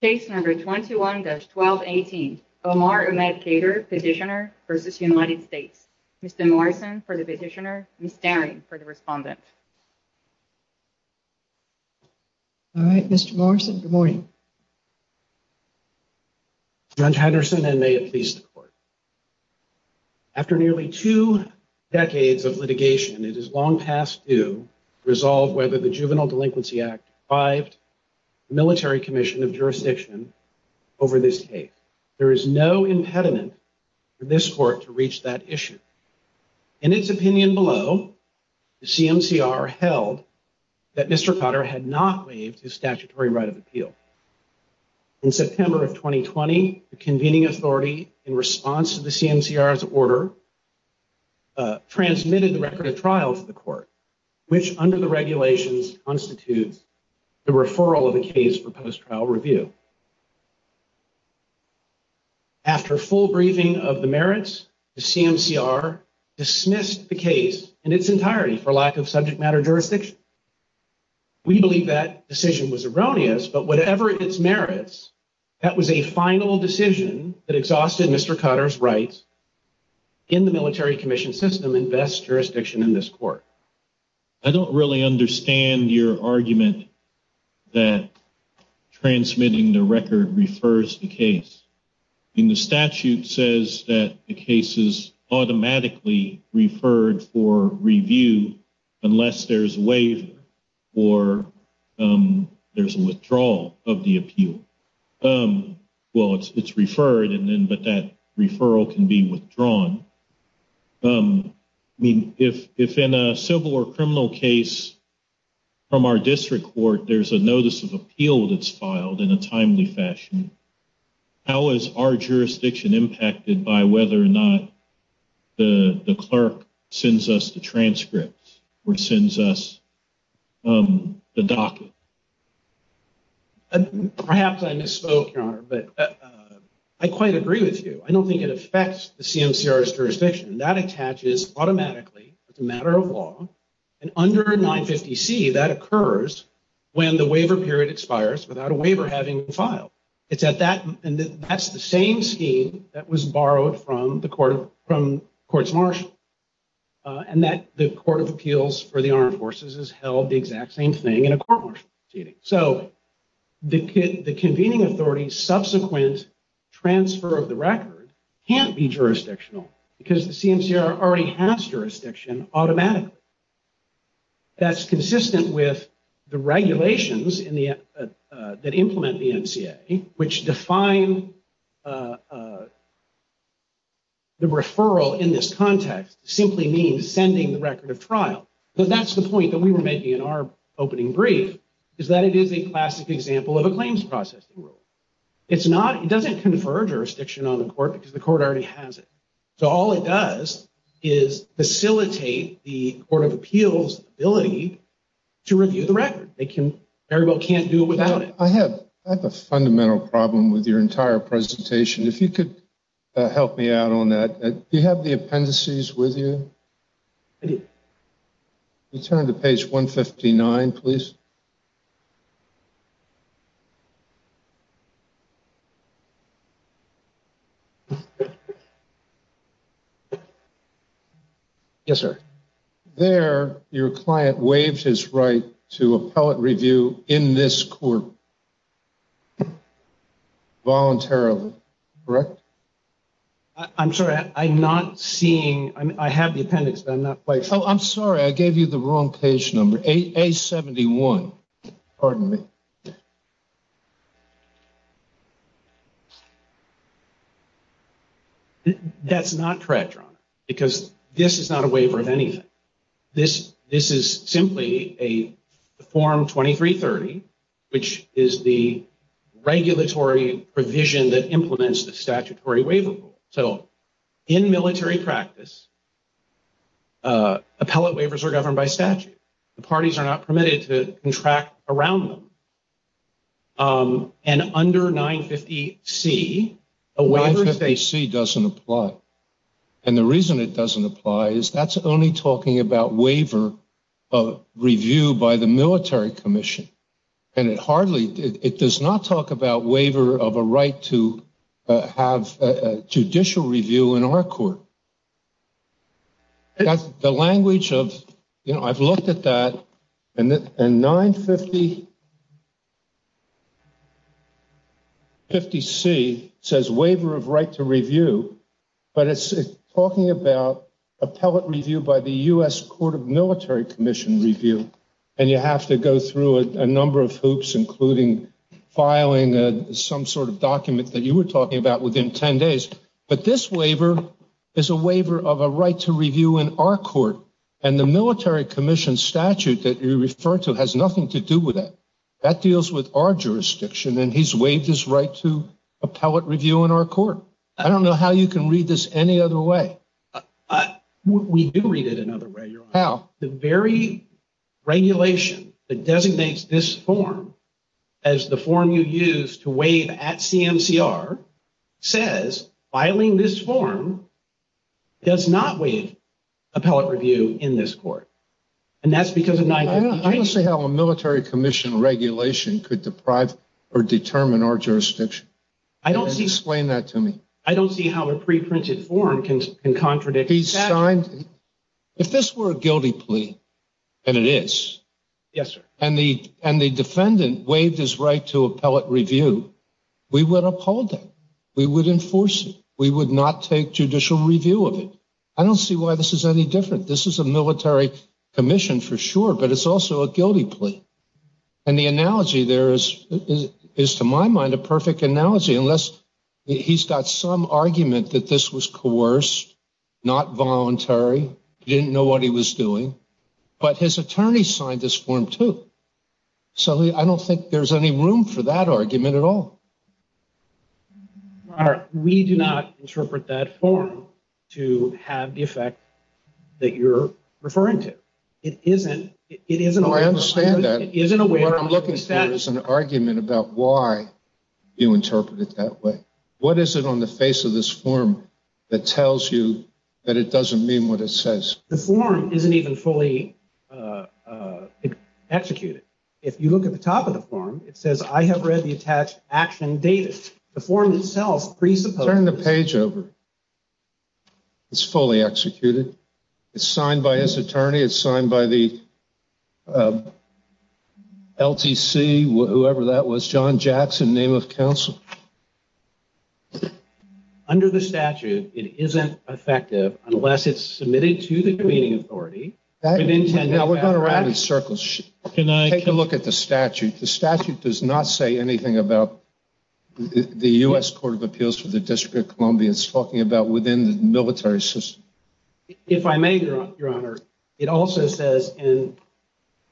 Case No. 21-1218, Omar Ahmed Khadr, Petitioner v. United States. Mr. Morrison for the Petitioner, Ms. Daring for the Respondent. All right, Mr. Morrison, good morning. Judge Henderson, and may it please the Court. After nearly two decades of litigation, it is long past due to resolve whether the Juvenile Delinquency Act deprived the Military Commission of Jurisdiction over this case. There is no impediment for this Court to reach that issue. In its opinion below, the CMCR held that Mr. Khadr had not waived his statutory right of appeal. In September of 2020, the convening authority, in response to the CMCR's order, transmitted the record of trial to the Court, which under the regulations constitutes the referral of the case for post-trial review. After full briefing of the merits, the CMCR dismissed the case in its entirety for lack of subject matter jurisdiction. We believe that decision was erroneous, but whatever its merits, that was a final decision that exhausted Mr. Khadr's rights in the Military Commission system and best jurisdiction in this Court. I don't really understand your argument that transmitting the record refers to the case. The statute says that the case is automatically referred for review unless there's a waiver or there's a withdrawal of the appeal. Well, it's referred, but that referral can be withdrawn. I mean, if in a civil or criminal case from our district court there's a notice of appeal that's filed in a timely fashion, how is our jurisdiction impacted by whether or not the clerk sends us the transcripts or sends us the docket? Perhaps I misspoke, Your Honor, but I quite agree with you. I don't think it affects the CMCR's jurisdiction. That attaches automatically. It's a matter of law. And under 950C, that occurs when the waiver period expires without a waiver having been filed. And that's the same scheme that was borrowed from the Court's marshal, and that the Court of Appeals for the Armed Forces has held the exact same thing in a court-martial proceeding. So the convening authority's subsequent transfer of the record can't be jurisdictional, because the CMCR already has jurisdiction automatically. That's consistent with the regulations that implement the NCA, which define the referral in this context simply means sending the record of trial. That's the point that we were making in our opening brief, is that it is a classic example of a claims processing rule. It doesn't confer jurisdiction on the court because the court already has it. So all it does is facilitate the Court of Appeals' ability to review the record. They very well can't do it without it. I have a fundamental problem with your entire presentation. If you could help me out on that. Do you have the appendices with you? I do. Could you turn to page 159, please? Yes, sir. There, your client waived his right to appellate review in this court voluntarily, correct? I'm sorry. I'm not seeing. I have the appendix, but I'm not quite sure. Oh, I'm sorry. I gave you the wrong page number, A71. Pardon me. That's not correct, Your Honor, because this is not a waiver of anything. This is simply a Form 2330, which is the regulatory provision that implements the statutory waiver rule. So in military practice, appellate waivers are governed by statute. The parties are not permitted to contract around them. And under 950C, a waiver is a… 950C doesn't apply. And the reason it doesn't apply is that's only talking about waiver of review by the military commission. And it hardly… It does not talk about waiver of a right to have judicial review in our court. The language of… You know, I've looked at that. And 950C says waiver of right to review, but it's talking about appellate review by the U.S. Court of Military Commission review. And you have to go through a number of hoops, including filing some sort of document that you were talking about within 10 days. But this waiver is a waiver of a right to review in our court. And the military commission statute that you refer to has nothing to do with that. That deals with our jurisdiction. And he's waived his right to appellate review in our court. I don't know how you can read this any other way. We do read it another way, Your Honor. How? The very regulation that designates this form as the form you use to waive at CMCR says filing this form does not waive appellate review in this court. And that's because of 950C. I don't see how a military commission regulation could deprive or determine our jurisdiction. I don't see… Explain that to me. I don't see how a preprinted form can contradict… If this were a guilty plea, and it is, and the defendant waived his right to appellate review, we would uphold that. We would enforce it. We would not take judicial review of it. I don't see why this is any different. This is a military commission for sure, but it's also a guilty plea. And the analogy there is, to my mind, a perfect analogy, unless he's got some argument that this was coerced, not voluntary, didn't know what he was doing, but his attorney signed this form too. So I don't think there's any room for that argument at all. Your Honor, we do not interpret that form to have the effect that you're referring to. It isn't… No, I understand that. What I'm looking for is an argument about why you interpret it that way. What is it on the face of this form that tells you that it doesn't mean what it says? The form isn't even fully executed. If you look at the top of the form, it says, I have read the attached action dated. The form itself presupposes… Turn the page over. It's fully executed. It's signed by his attorney. It's signed by the LTC, whoever that was, John Jackson, name of counsel. Under the statute, it isn't effective unless it's submitted to the convening authority. Now, we're going to wrap it in circles. Take a look at the statute. The statute does not say anything about the U.S. Court of Appeals for the District of Columbia. It's talking about within the military system. If I may, Your Honor, it also says in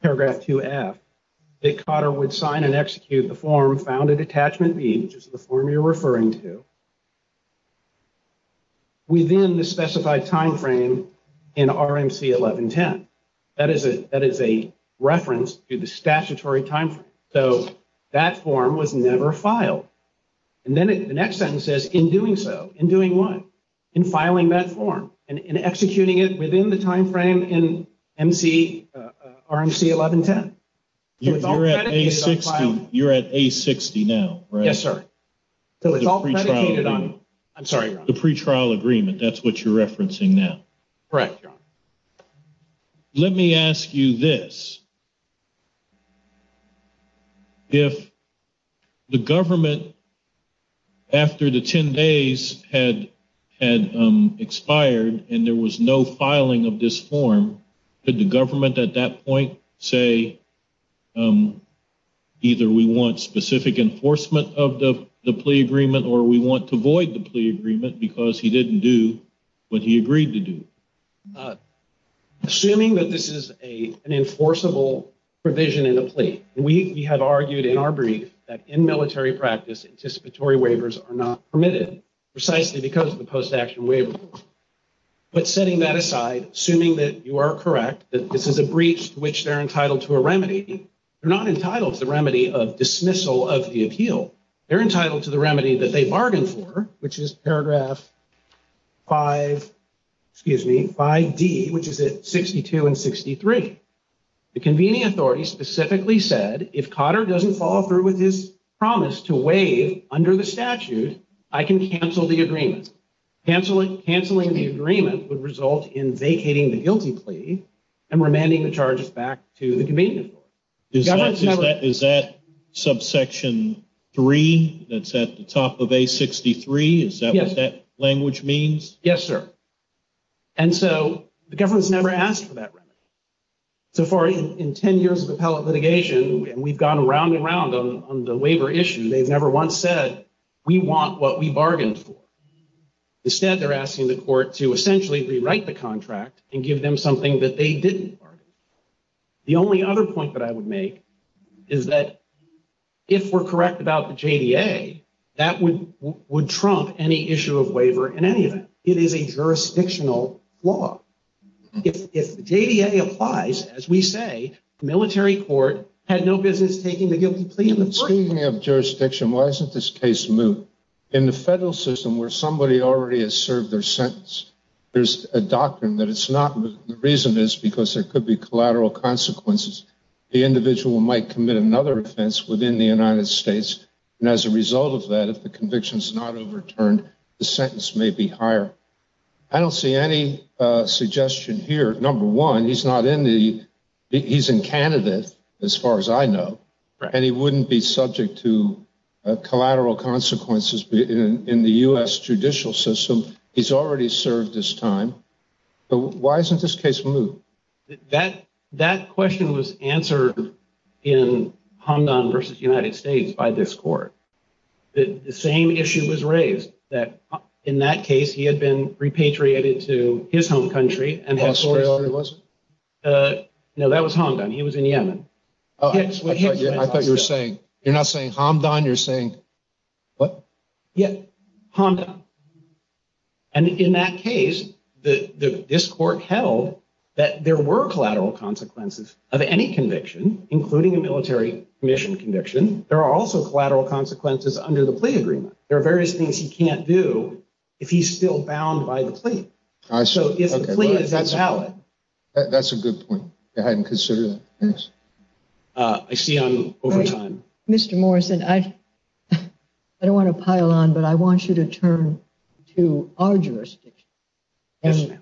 paragraph 2F that Cotter would sign and execute the form founded attachment B, which is the form you're referring to, within the specified timeframe in RMC 1110. That is a reference to the statutory timeframe. So that form was never filed. And then the next sentence says, in doing so. In doing what? In filing that form and executing it within the timeframe in RMC 1110. You're at A60 now, right? Yes, sir. The pretrial agreement. I'm sorry, Your Honor. The pretrial agreement. That's what you're referencing now. Correct, Your Honor. Let me ask you this. If the government, after the 10 days had expired and there was no filing of this form, could the government at that point say either we want specific enforcement of the plea agreement or we want to void the plea agreement because he didn't do what he agreed to do? Assuming that this is an enforceable provision in a plea. We have argued in our brief that in military practice, anticipatory waivers are not permitted precisely because of the post-action waiver. But setting that aside, assuming that you are correct, that this is a breach to which they're entitled to a remedy, they're not entitled to the remedy of dismissal of the appeal. They're entitled to the remedy that they bargained for, which is paragraph 5D, which is at 62 and 63. The convening authority specifically said, if Cotter doesn't follow through with his promise to waive under the statute, I can cancel the agreement. Canceling the agreement would result in vacating the guilty plea and remanding the charges back to the convening authority. Is that subsection 3 that's at the top of A63? Is that what that language means? Yes, sir. And so the government's never asked for that remedy. So far in 10 years of appellate litigation, we've gone around and around on the waiver issue. They've never once said we want what we bargained for. Instead, they're asking the court to essentially rewrite the contract and give them something that they didn't bargain for. The only other point that I would make is that if we're correct about the JDA, that would trump any issue of waiver in any event. It is a jurisdictional flaw. If the JDA applies, as we say, the military court had no business taking the guilty plea in the first place. Speaking of jurisdiction, why isn't this case moved? In the federal system where somebody already has served their sentence, there's a doctrine that it's not moved. The reason is because there could be collateral consequences. The individual might commit another offense within the United States, and as a result of that, if the conviction is not overturned, the sentence may be higher. I don't see any suggestion here. Number one, he's in Canada, as far as I know, and he wouldn't be subject to collateral consequences in the U.S. judicial system. He's already served his time. Why isn't this case moved? That question was answered in Hamdan v. United States by this court. The same issue was raised, that in that case, he had been repatriated to his home country. Australia it wasn't? No, that was Hamdan. He was in Yemen. I thought you were saying, you're not saying Hamdan, you're saying what? Yeah, Hamdan. And in that case, this court held that there were collateral consequences of any conviction, including a military commission conviction. There are also collateral consequences under the plea agreement. There are various things he can't do if he's still bound by the plea. So if the plea is invalid. That's a good point. I hadn't considered that. I see I'm over time. Mr. Morrison, I don't want to pile on, but I want you to turn to our jurisdiction.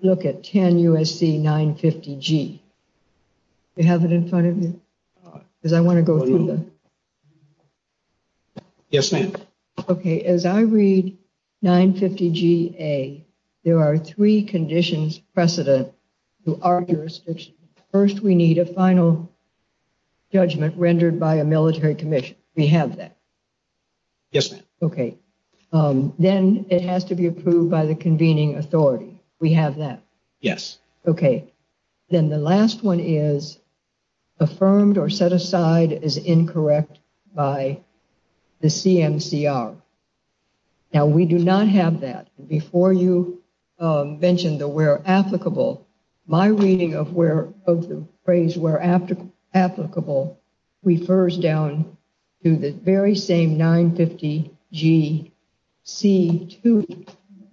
Look at 10 U.S.C. 950 G. You have it in front of you because I want to go through. Yes, ma'am. OK, as I read 950 G.A., there are three conditions precedent to our jurisdiction. First, we need a final judgment rendered by a military commission. We have that. Yes. OK, then it has to be approved by the convening authority. We have that. Yes. OK. Then the last one is affirmed or set aside as incorrect by the CMCR. Now, we do not have that. Before you mentioned the where applicable, my reading of where of the phrase where after applicable refers down to the very same 950 G.C. to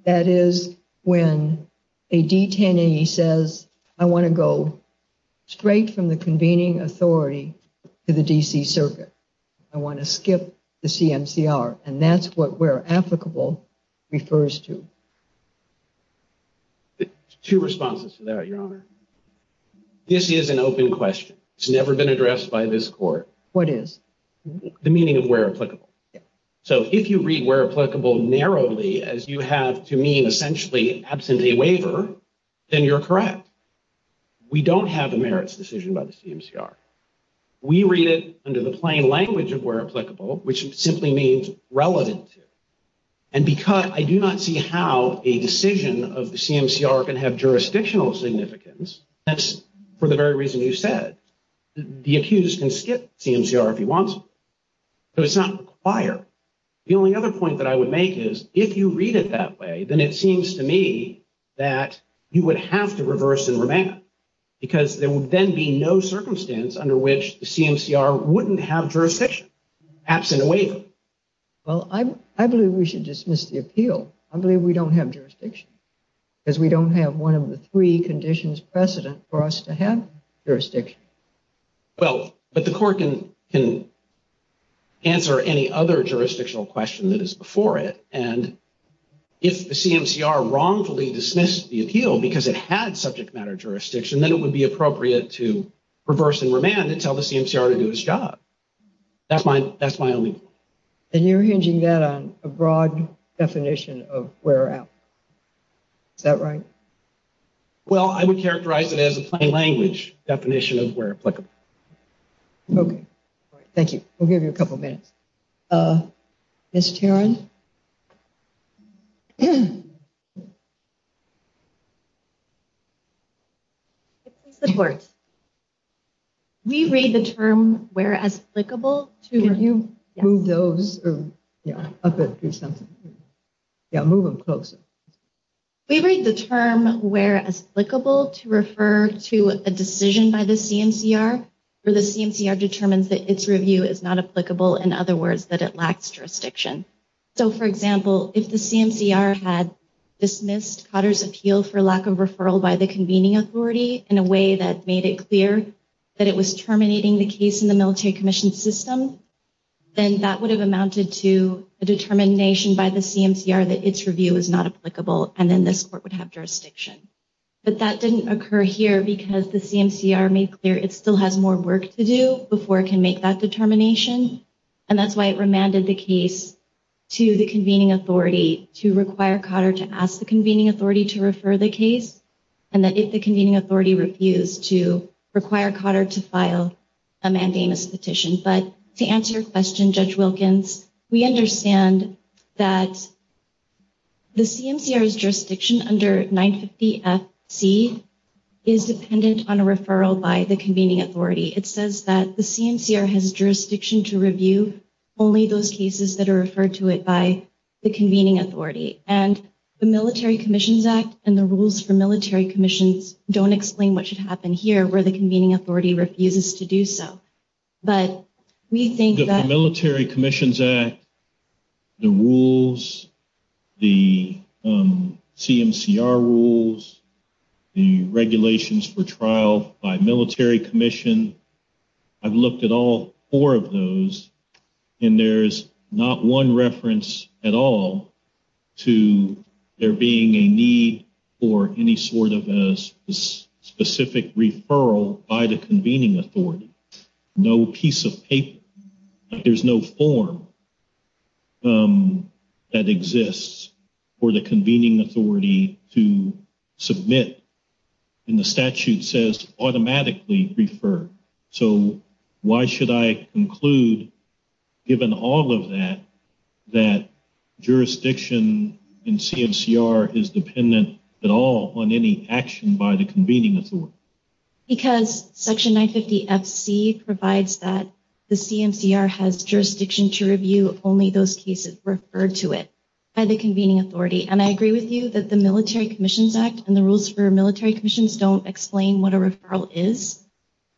that is when a detainee says, I want to go straight from the convening authority to the D.C. circuit. I want to skip the CMCR. And that's what we're applicable refers to. Two responses to that, Your Honor. This is an open question. It's never been addressed by this court. What is the meaning of where applicable? So if you read where applicable narrowly, as you have to mean essentially absentee waiver, then you're correct. We don't have a merits decision by the CMCR. We read it under the plain language of where applicable, which simply means relevant. And because I do not see how a decision of the CMCR can have jurisdictional significance. That's for the very reason you said. The accused can skip CMCR if he wants. So it's not required. The only other point that I would make is if you read it that way, then it seems to me that you would have to reverse and remand because there would then be no circumstance under which the CMCR wouldn't have jurisdiction absent a waiver. Well, I believe we should dismiss the appeal. I believe we don't have jurisdiction because we don't have one of the three conditions precedent for us to have jurisdiction. Well, but the court can answer any other jurisdictional question that is before it. And if the CMCR wrongfully dismissed the appeal because it had subject matter jurisdiction, then it would be appropriate to reverse and remand and tell the CMCR to do its job. That's my that's my only. And you're hinging that on a broad definition of where. Is that right? Well, I would characterize it as a plain language definition of where applicable. OK, thank you. We'll give you a couple of minutes. Miss Taron. Support. We read the term where as applicable to you, move those up to something. Move them closer. We read the term where applicable to refer to a decision by the CMCR or the CMCR determines that its review is not applicable. In other words, that it lacks jurisdiction. So, for example, if the CMCR had dismissed Cotter's appeal for lack of referral by the convening authority in a way that made it clear that it was terminating the case in the military commission system, then that would have amounted to a determination by the CMCR that its review is not applicable. And then this court would have jurisdiction. But that didn't occur here because the CMCR made clear it still has more work to do before it can make that determination. And that's why it remanded the case to the convening authority to require Cotter to ask the convening authority to refer the case. And that if the convening authority refused to require Cotter to file a mandamus petition. But to answer your question, Judge Wilkins, we understand that the CMCR's jurisdiction under 950 FC is dependent on a referral by the convening authority. It says that the CMCR has jurisdiction to review only those cases that are referred to it by the convening authority. And the Military Commissions Act and the rules for military commissions don't explain what should happen here where the convening authority refuses to do so. The Military Commissions Act, the rules, the CMCR rules, the regulations for trial by military commission. I've looked at all four of those, and there's not one reference at all to there being a need for any sort of specific referral by the convening authority. There's really no piece of paper. There's no form that exists for the convening authority to submit. And the statute says automatically refer. So why should I conclude, given all of that, that jurisdiction in CMCR is dependent at all on any action by the convening authority? Because section 950 FC provides that the CMCR has jurisdiction to review only those cases referred to it by the convening authority. And I agree with you that the Military Commissions Act and the rules for military commissions don't explain what a referral is.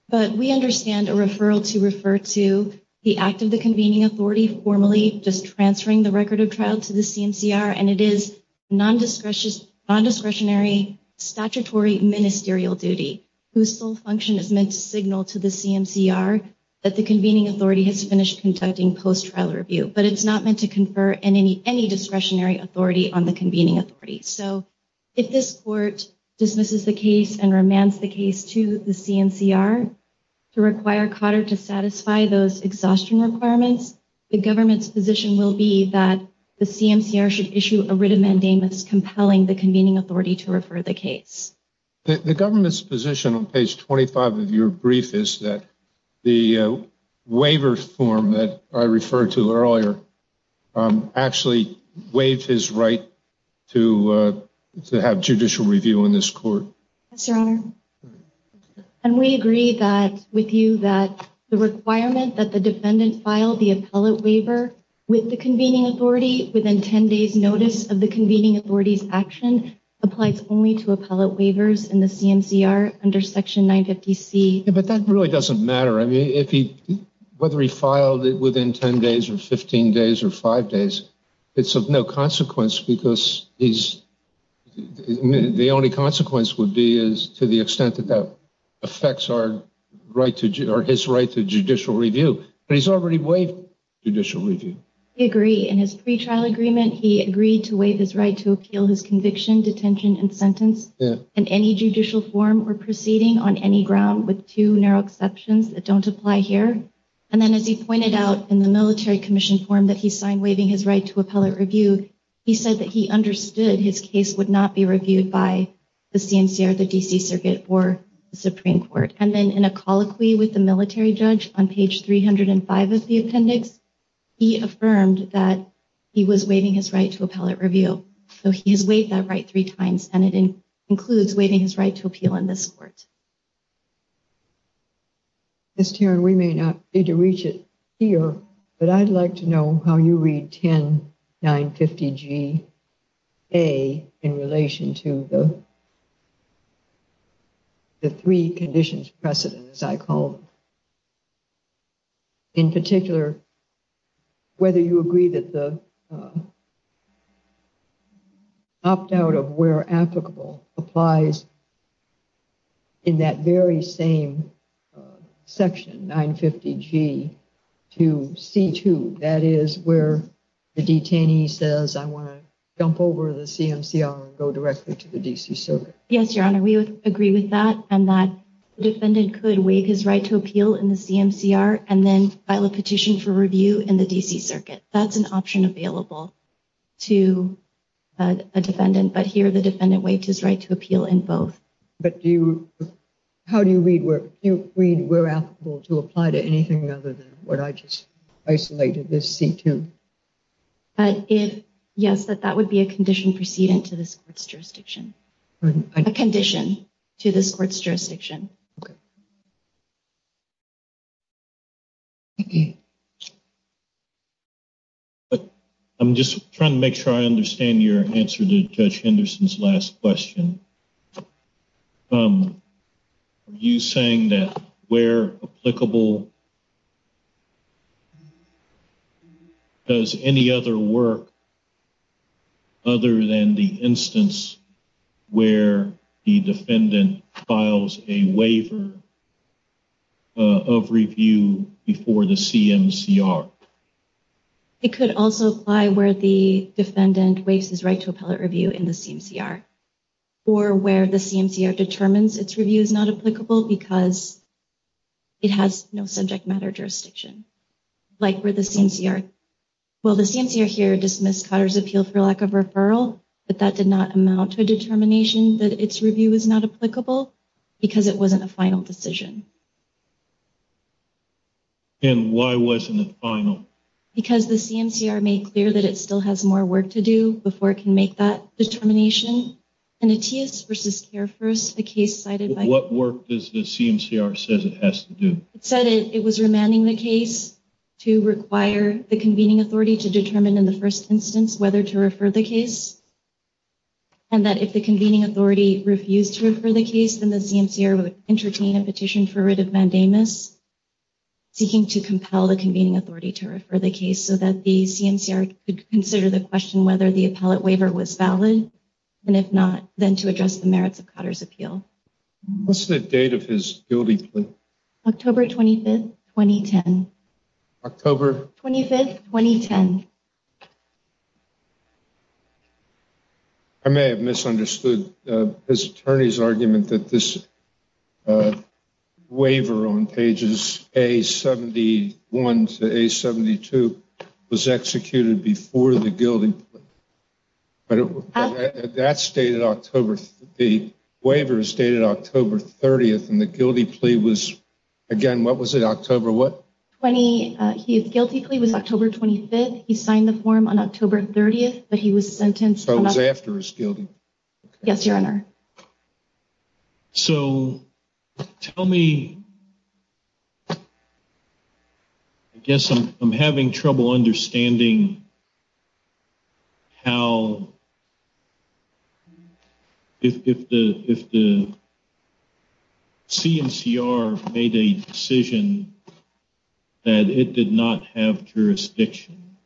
But we understand a referral to refer to the act of the convening authority formally just transferring the record of trial to the CMCR. And it is nondiscretionary statutory ministerial duty whose sole function is meant to signal to the CMCR that the convening authority has finished conducting post-trial review. But it's not meant to confer any discretionary authority on the convening authority. So if this court dismisses the case and remands the case to the CMCR to require Cotter to satisfy those exhaustion requirements, the government's position will be that the CMCR should issue a writ of mandamus compelling the convening authority to refer the case. The government's position on page 25 of your brief is that the waiver form that I referred to earlier actually waived his right to have judicial review in this court. And we agree with you that the requirement that the defendant file the appellate waiver with the convening authority within 10 days' notice of the convening authority's action applies only to appellate waivers in the CMCR under Section 950C. But that really doesn't matter. I mean, whether he filed it within 10 days or 15 days or 5 days, it's of no consequence because the only consequence would be to the extent that that affects his right to judicial review. But he's already waived judicial review. I agree. In his pretrial agreement, he agreed to waive his right to appeal his conviction, detention, and sentence in any judicial form or proceeding on any ground with two narrow exceptions that don't apply here. And then as he pointed out in the Military Commission form that he signed waiving his right to appellate review, he said that he understood his case would not be reviewed by the CMCR, the D.C. Circuit, or the Supreme Court. And then in a colloquy with the military judge on page 305 of the appendix, he affirmed that he was waiving his right to appellate review. So he has waived that right three times, and it includes waiving his right to appeal in this court. Ms. Tieran, we may not be able to reach it here, but I'd like to know how you read 10950G-A in relation to the three conditions precedent, as I call them. In particular, whether you agree that the opt-out of where applicable applies in that very same section, 950G, to C2, that is where the detainee says, I want to jump over the CMCR and go directly to the D.C. Circuit. Yes, Your Honor, we agree with that, and that the defendant could waive his right to appeal in the CMCR and then file a petition for review in the D.C. Circuit. That's an option available to a defendant, but here the defendant waived his right to appeal in both. But how do you read where applicable to apply to anything other than what I just isolated as C2? Yes, that would be a condition precedent to this court's jurisdiction. A condition to this court's jurisdiction. I'm just trying to make sure I understand your answer to Judge Henderson's last question. Are you saying that where applicable does any other work other than the instance where the defendant files a waiver of review before the CMCR? It could also apply where the defendant waives his right to appellate review in the CMCR. Or where the CMCR determines its review is not applicable because it has no subject matter jurisdiction. Like where the CMCR, well the CMCR here dismissed Cotter's appeal for lack of referral, but that did not amount to a determination that its review is not applicable because it wasn't a final decision. And why wasn't it final? Because the CMCR made clear that it still has more work to do before it can make that determination. In Ateus v. Care First, the case cited by- What work does the CMCR say it has to do? It said it was remanding the case to require the convening authority to determine in the first instance whether to refer the case. And that if the convening authority refused to refer the case, then the CMCR would entertain a petition for writ of mandamus, seeking to compel the convening authority to refer the case so that the CMCR could consider the question whether the appellate waiver was valid. And if not, then to address the merits of Cotter's appeal. What's the date of his guilty plea? October 25, 2010. October- 25, 2010. I may have misunderstood his attorney's argument that this waiver on pages A71 to A72 was executed before the guilty plea. That's dated October- The waiver is dated October 30th, and the guilty plea was- Again, what was it, October what? Guilty plea was October 25th. He signed the form on October 30th, but he was sentenced- So it was after his guilty. Yes, Your Honor. So tell me, I guess I'm having trouble understanding how, if the CMCR made a decision that it did not have jurisdiction,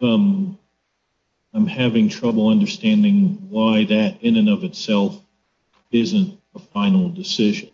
I'm having trouble understanding why that, in and of itself, isn't a final decision.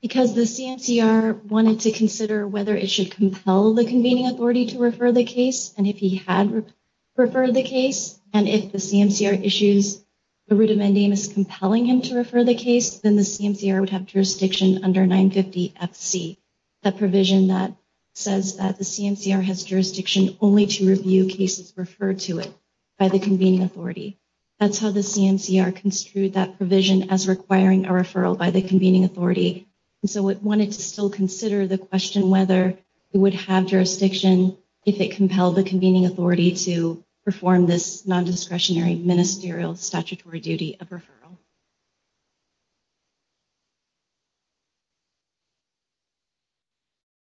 Because the CMCR wanted to consider whether it should compel the convening authority to refer the case, and if he had referred the case, and if the CMCR issues a writ of mandamus compelling him to refer the case, then the CMCR would have jurisdiction under 950 FC, that provision that says that the CMCR has jurisdiction only to review cases referred to it by the convening authority. That's how the CMCR construed that provision as requiring a referral by the convening authority. So it wanted to still consider the question whether it would have jurisdiction if it compelled the convening authority to perform this non-discretionary ministerial statutory duty of referral.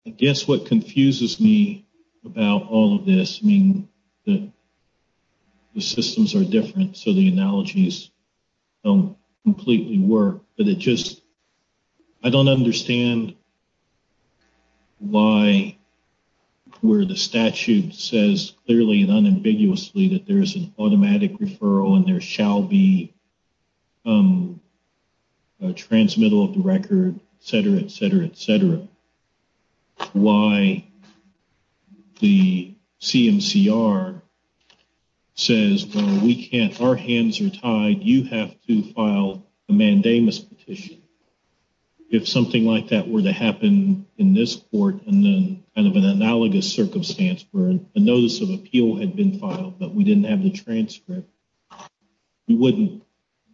I guess what confuses me about all of this, I mean, the systems are different, so the analogies don't completely work, but it just, I don't understand why, where the statute says clearly and unambiguously that there is an automatic referral and there shall be a transmittal of the record, et cetera, et cetera, et cetera. I don't understand why the CMCR says, well, we can't, our hands are tied, you have to file a mandamus petition. If something like that were to happen in this court and then kind of an analogous circumstance where a notice of appeal had been filed, but we didn't have the transcript, we wouldn't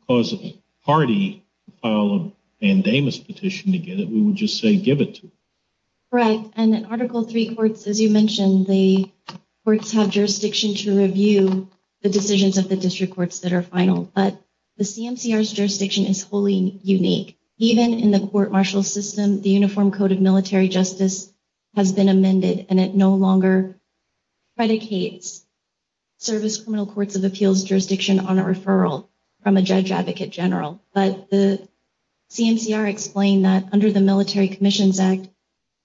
cause a party to file a mandamus petition to get it, we would just say give it to them. Correct, and in Article III courts, as you mentioned, the courts have jurisdiction to review the decisions of the district courts that are final, but the CMCR's jurisdiction is wholly unique. Even in the court-martial system, the Uniform Code of Military Justice has been amended, and it no longer predicates service criminal courts of appeals jurisdiction on a referral from a judge advocate general. But the CMCR explained that under the Military Commissions Act,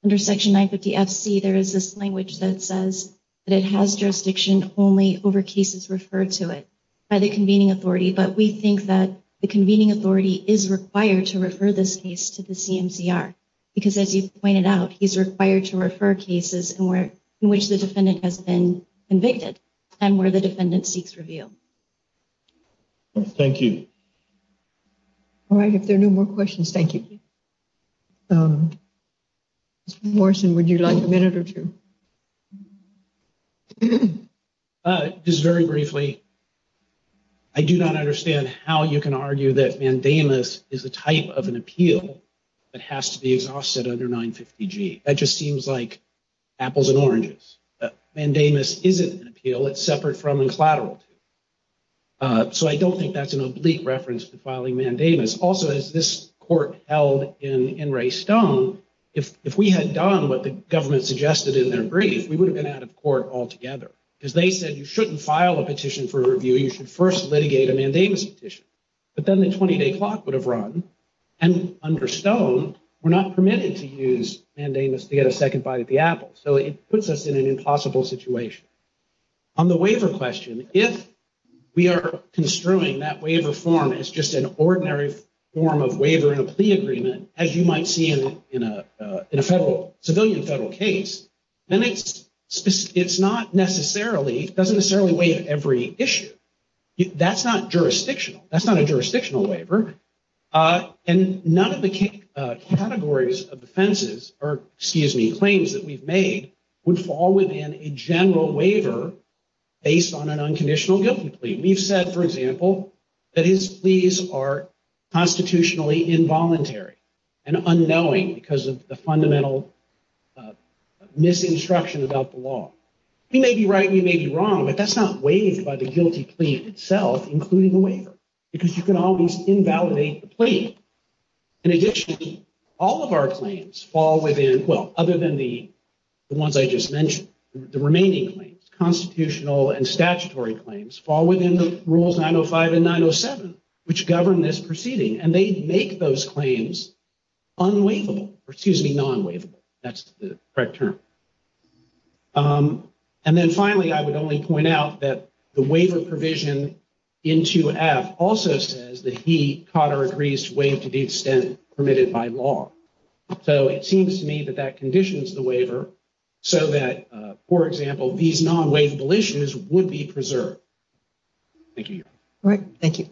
under Section 950 FC, there is this language that says that it has jurisdiction only over cases referred to it by the convening authority, but we think that the convening authority is required to refer this case to the CMCR because, as you pointed out, he's required to refer cases in which the defendant has been convicted and where the defendant seeks review. Thank you. All right, if there are no more questions, thank you. Mr. Morrison, would you like a minute or two? Just very briefly, I do not understand how you can argue that mandamus is a type of an appeal that has to be exhausted under 950G. That just seems like apples and oranges. Mandamus isn't an appeal. It's separate from and collateral to. So I don't think that's an oblique reference to filing mandamus. Also, as this court held in Wray Stone, if we had done what the government suggested in their brief, we would have been out of court altogether because they said you shouldn't file a petition for review. You should first litigate a mandamus petition. But then the 20-day clock would have run. And under Stone, we're not permitted to use mandamus to get a second bite at the apple. So it puts us in an impossible situation. On the waiver question, if we are construing that waiver form as just an ordinary form of waiver in a plea agreement, as you might see in a federal, civilian federal case, then it's not necessarily, doesn't necessarily waive every issue. That's not jurisdictional. That's not a jurisdictional waiver. And none of the categories of offenses or, excuse me, claims that we've made would fall within a general waiver based on an unconditional guilty plea. We've said, for example, that his pleas are constitutionally involuntary and unknowing because of the fundamental misinstruction about the law. We may be right, we may be wrong, but that's not waived by the guilty plea itself, including the waiver, because you can always invalidate the plea. In addition, all of our claims fall within, well, other than the ones I just mentioned, the remaining claims, constitutional and statutory claims, fall within the rules 905 and 907, which govern this proceeding. And they make those claims unwaivable, or excuse me, non-waivable. That's the correct term. And then finally, I would only point out that the waiver provision in 2F also says that he, Cotter, agrees to waive to the extent permitted by law. So it seems to me that that conditions the waiver so that, for example, these non-waivable issues would be preserved. Thank you, Your Honor. All right. Thank you.